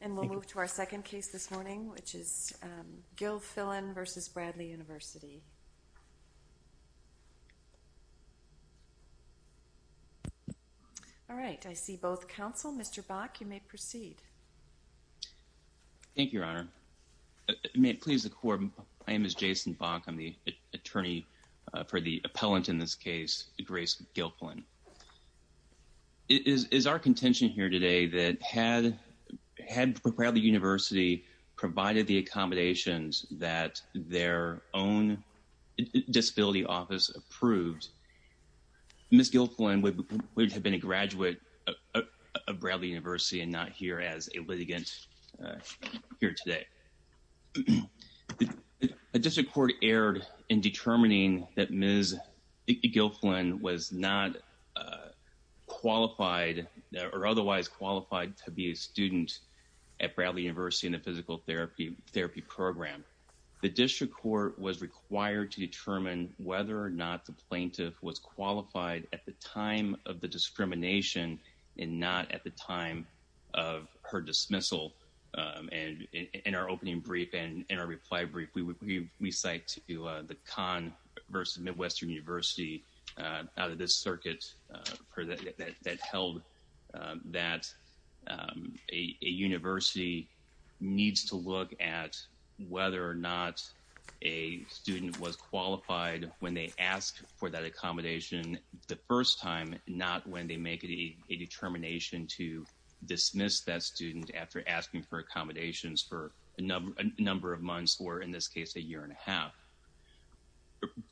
And we'll move to our second case this morning, which is Gilfillan v. Bradley University All right, I see both counsel. Mr. Bach, you may proceed Thank you, Your Honor May it please the court. My name is Jason Bach. I'm the attorney for the appellant in this case, Grace Gilfillan It is our contention here today that had Bradley University provided the accommodations that their own Disability Office approved, Ms. Gilfillan would have been a graduate of Bradley University and not here as a litigant here today A district court erred in determining that Ms. Gilfillan was not qualified or otherwise qualified to be a student at Bradley University in a physical therapy program The district court was required to determine whether or not the plaintiff was qualified at the time of the discrimination and not at the time of her dismissal In our opening brief and in our reply brief, we cite the Conn v. Midwestern University out of this circuit that held that a university needs to look at whether or not a student was qualified when they asked for that accommodation the first time, not when they make a determination to dismiss that student after asking for accommodation Ms. Gilfillan was denied accommodations for a number of months or in this case a year and a half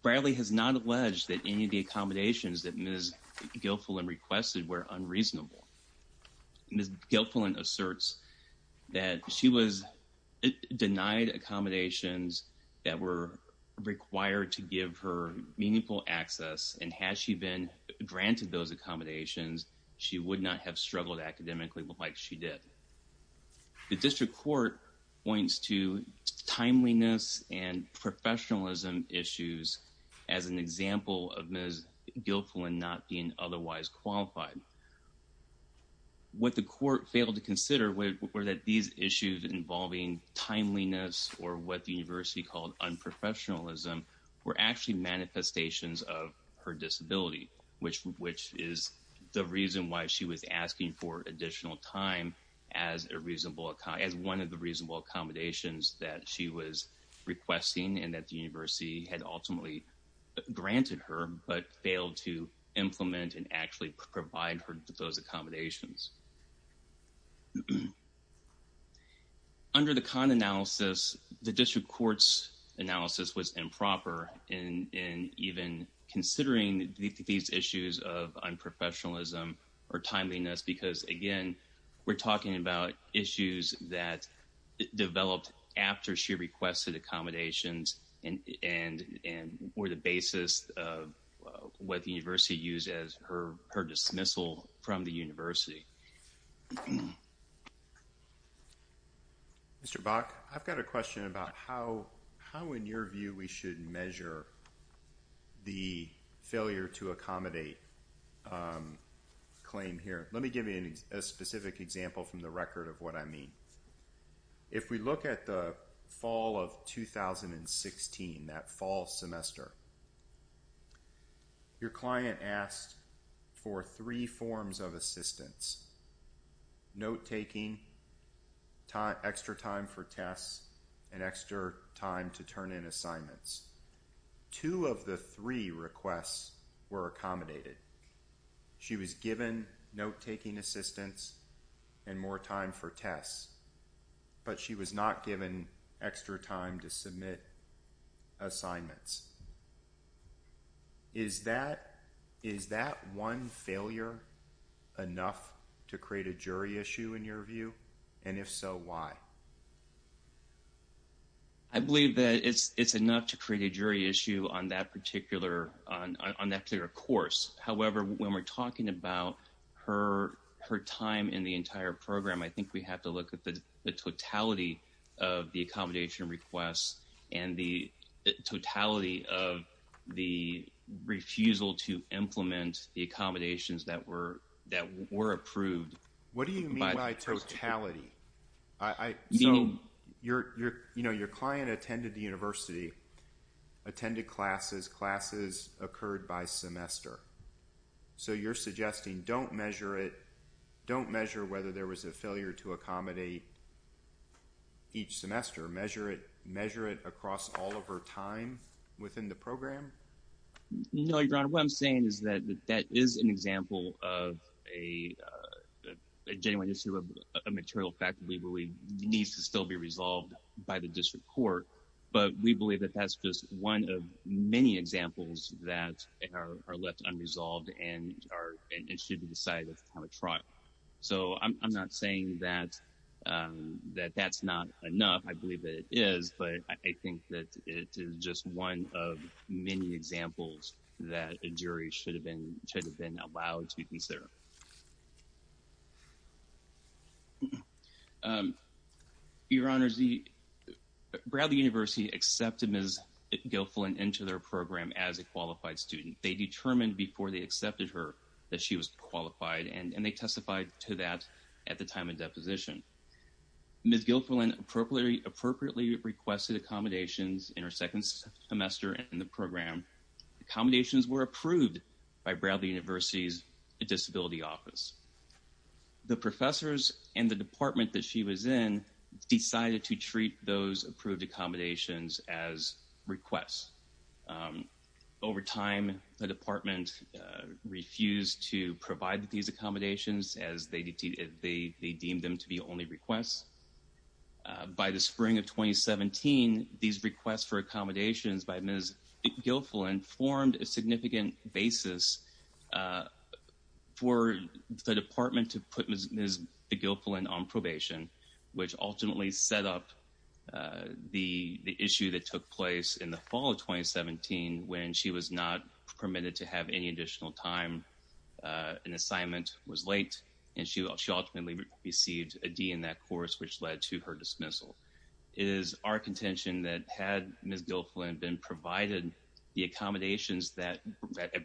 Bradley has not alleged that any of the accommodations that Ms. Gilfillan requested were unreasonable Ms. Gilfillan asserts that she was denied accommodations that were required to give her meaningful access and had she been granted those accommodations, she would not have struggled academically like she did The district court points to timeliness and professionalism issues as an example of Ms. Gilfillan not being otherwise qualified What the court failed to consider were that these issues involving timeliness or what the university called unprofessionalism were actually manifestations of her disability which is the reason why she was asking for additional time as one of the reasonable accommodations that she was requesting and that the university had ultimately granted her but failed to implement and actually provide her those accommodations Under the Kahn analysis, the district court's analysis was improper in even considering these issues of unprofessionalism or timeliness because again, we're talking about issues that developed after she requested accommodations and were the basis of what the university used as her dismissal from the university Mr. Bach, I've got a question about how in your view we should measure the failure to accommodate claim here Let me give you a specific example from the record of what I mean If we look at the fall of 2016, that fall semester, your client asked for three forms of assistance, note taking, extra time for tests, and extra time to turn in assignments Two of the three requests were accommodated. She was given note taking assistance and more time for tests, but she was not given extra time to submit assignments Is that one failure enough to create a jury issue in your view? And if so, why? I believe that it's enough to create a jury issue on that particular course. However, when we're talking about her time in the entire program, I think we have to look at the totality of the accommodation requests and the totality of the refusal to implement the accommodations that were approved What do you mean by totality? Your client attended the university, attended classes, classes occurred by semester, so you're suggesting don't measure whether there was a failure to accommodate each semester, measure it across all of her time within the program? No, Your Honor. What I'm saying is that that is an example of a genuine issue of a material fact that we believe needs to still be resolved by the district court, but we believe that that's just one of many examples that are left unresolved and should be decided at the time of trial So I'm not saying that that's not enough. I believe that it is, but I think that it is just one of many examples that a jury should have been allowed to consider Your Honor, Bradley University accepted Ms. Guilfoyle into their program as a qualified student. They determined before they accepted her that she was qualified, and they testified to that at the time of deposition Ms. Guilfoyle appropriately requested accommodations in her second semester in the program. Accommodations were approved by Bradley University's disability office. The professors and the department that she was in decided to treat those approved accommodations as requests Over time, the department refused to provide these accommodations as they deemed them to be only requests. By the spring of 2017, these requests for accommodations by Ms. Guilfoyle formed a significant basis for the department to put Ms. Guilfoyle on probation, which ultimately set up the issue that took place in the fall of 2017 When she was not permitted to have any additional time, an assignment was late, and she ultimately received a D in that course, which led to her dismissal It is our contention that had Ms. Guilfoyle been provided the accommodations that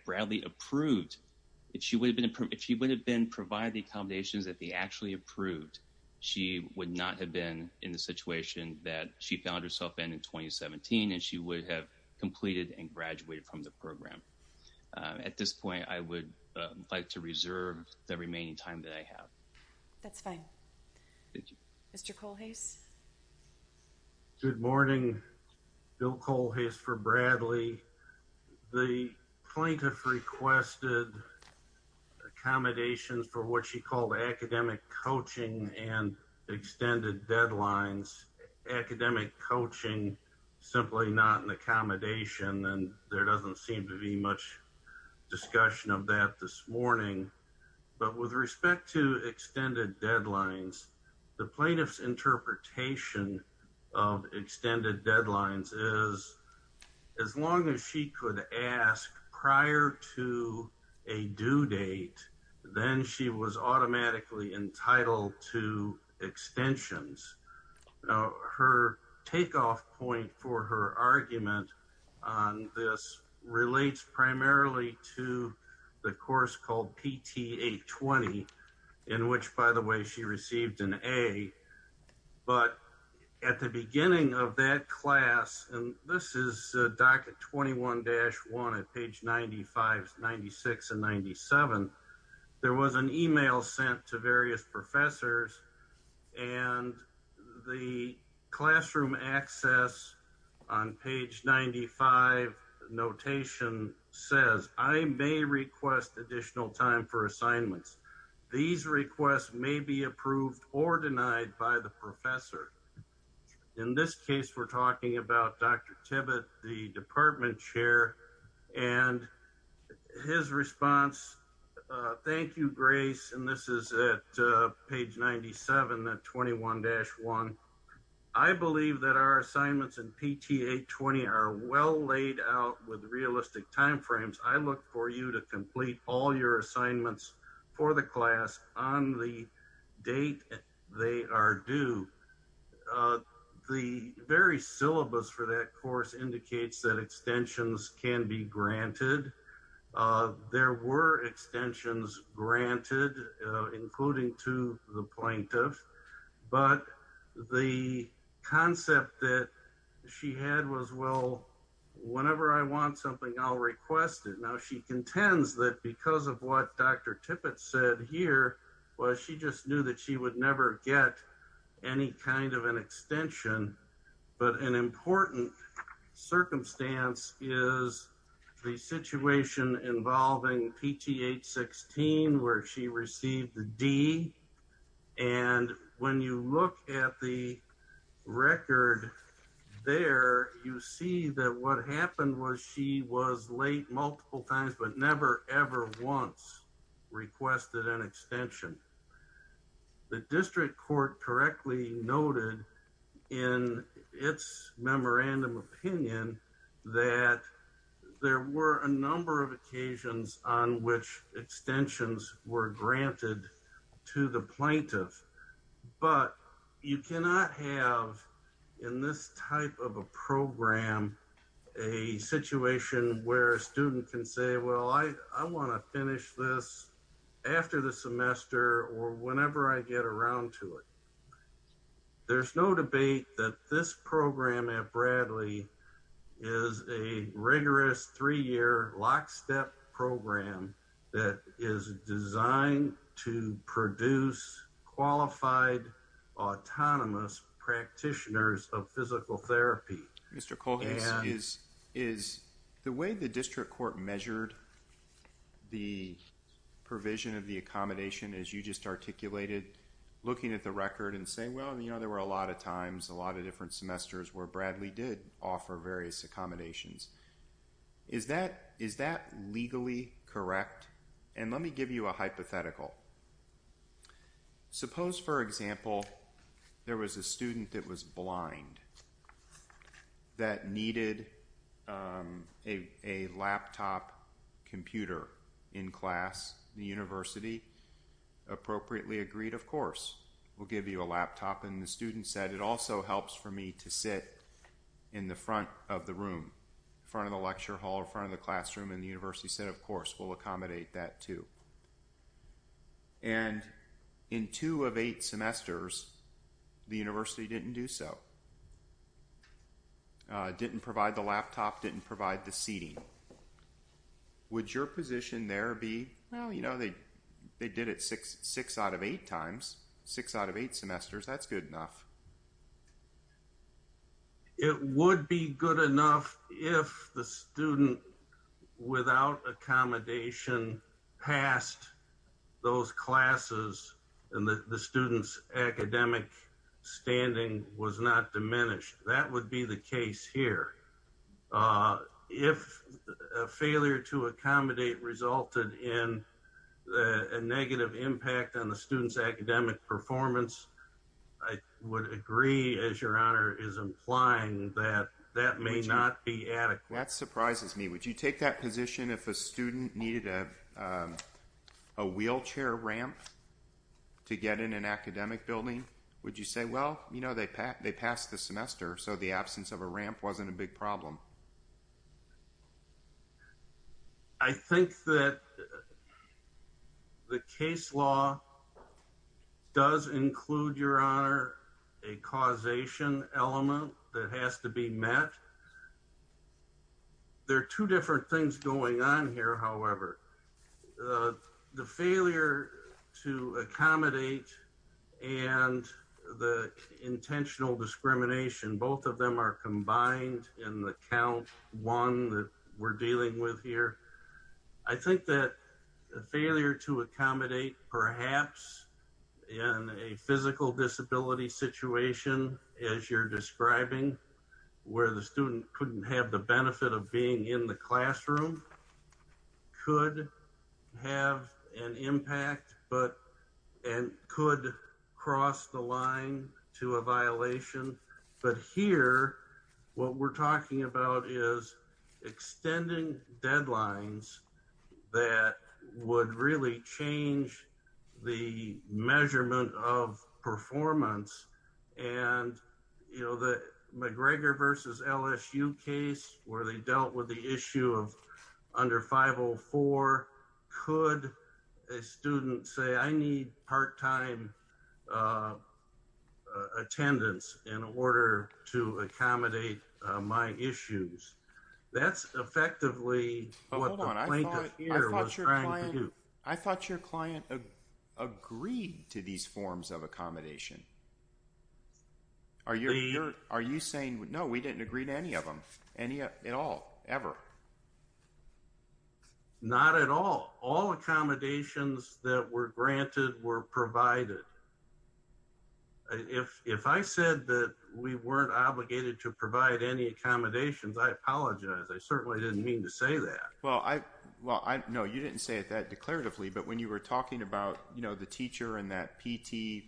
Bradley approved, if she would have been provided the accommodations that they actually approved, she would not have been in the situation that she found herself in in 2017, and she would have completed and graduated from the program At this point, I would like to reserve the remaining time that I have That's fine Mr. Colhase Good morning. Bill Colhase for Bradley The plaintiff requested accommodations for what she called academic coaching and extended deadlines, academic coaching, simply not an accommodation, and there doesn't seem to be much discussion of that this morning But with respect to extended deadlines, the plaintiff's interpretation of extended deadlines is as long as she could ask prior to a due date, then she was automatically entitled to extensions Her takeoff point for her argument on this relates primarily to the course called PTA 20, in which, by the way, she received an A But at the beginning of that class, and this is docket 21-1 at page 95, 96, and 97, there was an email sent to various professors And the classroom access on page 95 notation says, I may request additional time for assignments These requests may be approved or denied by the professor In this case, we're talking about Dr. Tibbett, the department chair, and his response Thank you, Grace And this is at page 97 at 21-1 I believe that our assignments in PTA 20 are well laid out with realistic timeframes I look for you to complete all your assignments for the class on the date they are due The very syllabus for that course indicates that extensions can be granted There were extensions granted, including to the plaintiff But the concept that she had was, well, whenever I want something, I'll request it Now, she contends that because of what Dr. Tibbett said here, well, she just knew that she would never get any kind of an extension But an important circumstance is the situation involving PTH 16, where she received the D And when you look at the record there, you see that what happened was she was late multiple times, but never, ever once requested an extension The district court correctly noted in its memorandum opinion that there were a number of occasions on which extensions were granted to the plaintiff But you cannot have in this type of a program a situation where a student can say, well, I want to finish this after the semester or whenever I get around to it There's no debate that this program at Bradley is a rigorous three-year lockstep program that is designed to produce qualified, autonomous practitioners of physical therapy The way the district court measured the provision of the accommodation, as you just articulated, looking at the record and saying, well, there were a lot of times, a lot of different semesters where Bradley did offer various accommodations Is that legally correct? And let me give you a hypothetical Suppose, for example, there was a student that was blind that needed a laptop computer in class The university appropriately agreed, of course, we'll give you a laptop And the student said, it also helps for me to sit in the front of the room, front of the lecture hall or front of the classroom And the university said, of course, we'll accommodate that, too And in two of eight semesters, the university didn't do so Didn't provide the laptop, didn't provide the seating Would your position there be, well, you know, they did it six out of eight times, six out of eight semesters, that's good enough It would be good enough if the student without accommodation passed those classes and the student's academic standing was not diminished That would be the case here If a failure to accommodate resulted in a negative impact on the student's academic performance I would agree as your honor is implying that that may not be adequate That surprises me. Would you take that position if a student needed a wheelchair ramp to get in an academic building? Would you say, well, you know, they passed the semester, so the absence of a ramp wasn't a big problem I think that the case law does include, your honor, a causation element that has to be met There are two different things going on here, however The failure to accommodate and the intentional discrimination, both of them are combined in the count one that we're dealing with here I think that the failure to accommodate, perhaps in a physical disability situation, as you're describing Where the student couldn't have the benefit of being in the classroom could have an impact and could cross the line to a violation But here, what we're talking about is extending deadlines that would really change the measurement of performance And, you know, the McGregor versus LSU case where they dealt with the issue of under 504, could a student say, I need part-time attendance in order to accommodate my issues That's effectively what the plaintiff here was trying to do I thought your client agreed to these forms of accommodation Are you saying, no, we didn't agree to any of them, at all, ever Not at all, all accommodations that were granted were provided If I said that we weren't obligated to provide any accommodations, I apologize, I certainly didn't mean to say that Well, no, you didn't say it that declaratively, but when you were talking about, you know, the teacher and that PT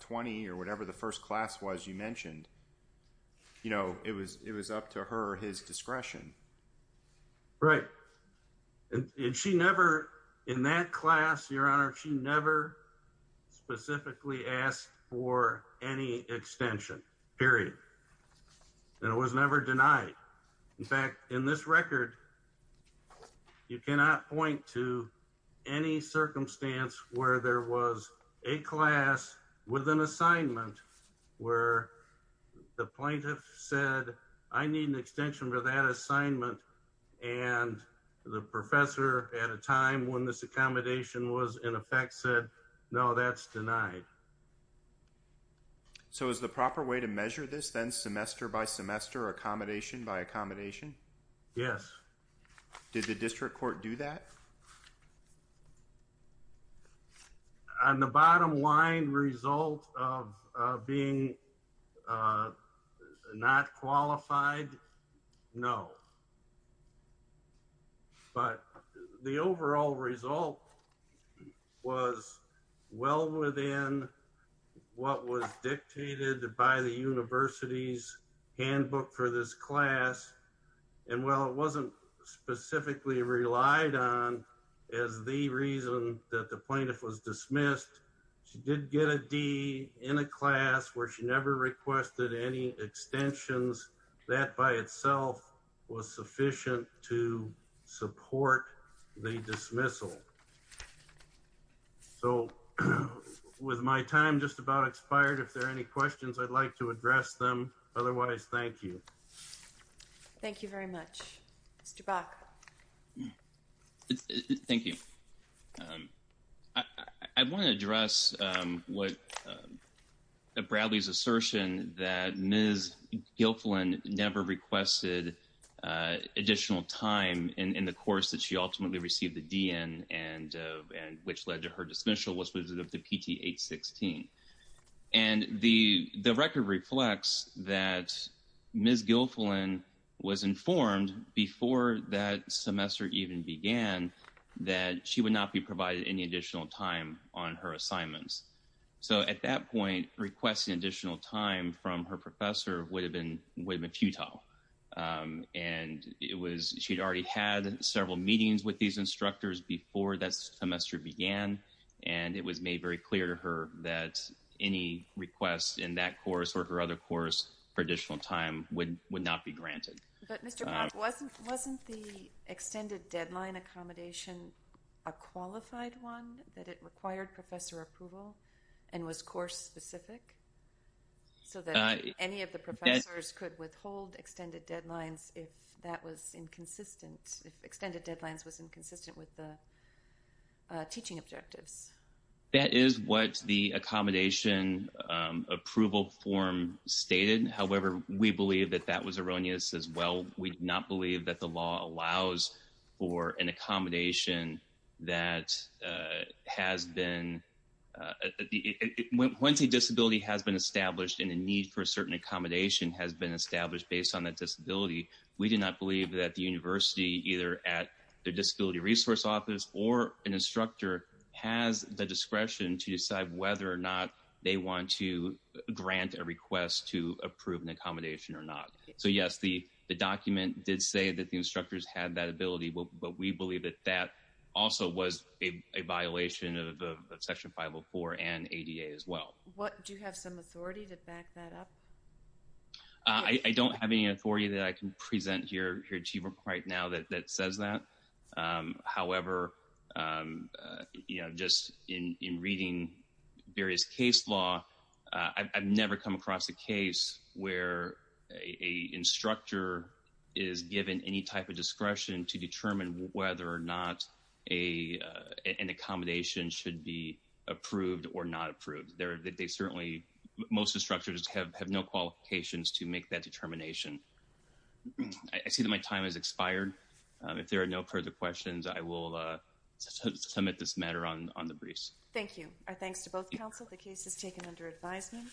20 or whatever the first class was you mentioned You know, it was up to her or his discretion Right, and she never, in that class, your honor, she never specifically asked for any extension, period And it was never denied. In fact, in this record, you cannot point to any circumstance where there was a class with an assignment where the plaintiff said, I need an extension for that assignment And the professor at a time when this accommodation was in effect said, no, that's denied So is the proper way to measure this, then, semester by semester or accommodation by accommodation? Yes Did the district court do that? On the bottom line, result of being not qualified, no But the overall result was well within what was dictated by the university's handbook for this class And while it wasn't specifically relied on as the reason that the plaintiff was dismissed, she did get a D in a class where she never requested any extensions that by itself was sufficient to support the dismissal So with my time just about expired, if there are any questions, I'd like to address them. Otherwise, thank you Thank you very much. Mr. Bach Thank you. I want to address what Bradley's assertion that Ms. Guilfoyle never requested additional time in the course that she ultimately received the D in and which led to her dismissal was with the PT 816 And the record reflects that Ms. Guilfoyle was informed before that semester even began that she would not be provided any additional time on her assignments So at that point, requesting additional time from her professor would have been futile And it was she'd already had several meetings with these instructors before that semester began And it was made very clear to her that any requests in that course or her other course for additional time would not be granted But Mr. Bach, wasn't the extended deadline accommodation a qualified one that it required professor approval and was course specific? So that any of the professors could withhold extended deadlines if that was inconsistent, if extended deadlines was inconsistent with the teaching objectives That is what the accommodation approval form stated. However, we believe that that was erroneous as well We do not believe that the law allows for an accommodation that has been, once a disability has been established and a need for a certain accommodation has been established based on that disability We do not believe that the university either at the disability resource office or an instructor has the discretion to decide whether or not they want to grant a request to approve an accommodation or not So yes, the document did say that the instructors had that ability, but we believe that that also was a violation of section 504 and ADA as well Do you have some authority to back that up? I don't have any authority that I can present here to you right now that says that However, just in reading various case law, I've never come across a case where a instructor is given any type of discretion to determine whether or not an accommodation should be approved or not approved Most instructors have no qualifications to make that determination I see that my time has expired. If there are no further questions, I will submit this matter on the briefs Thank you. Our thanks to both counsel. The case is taken under advisement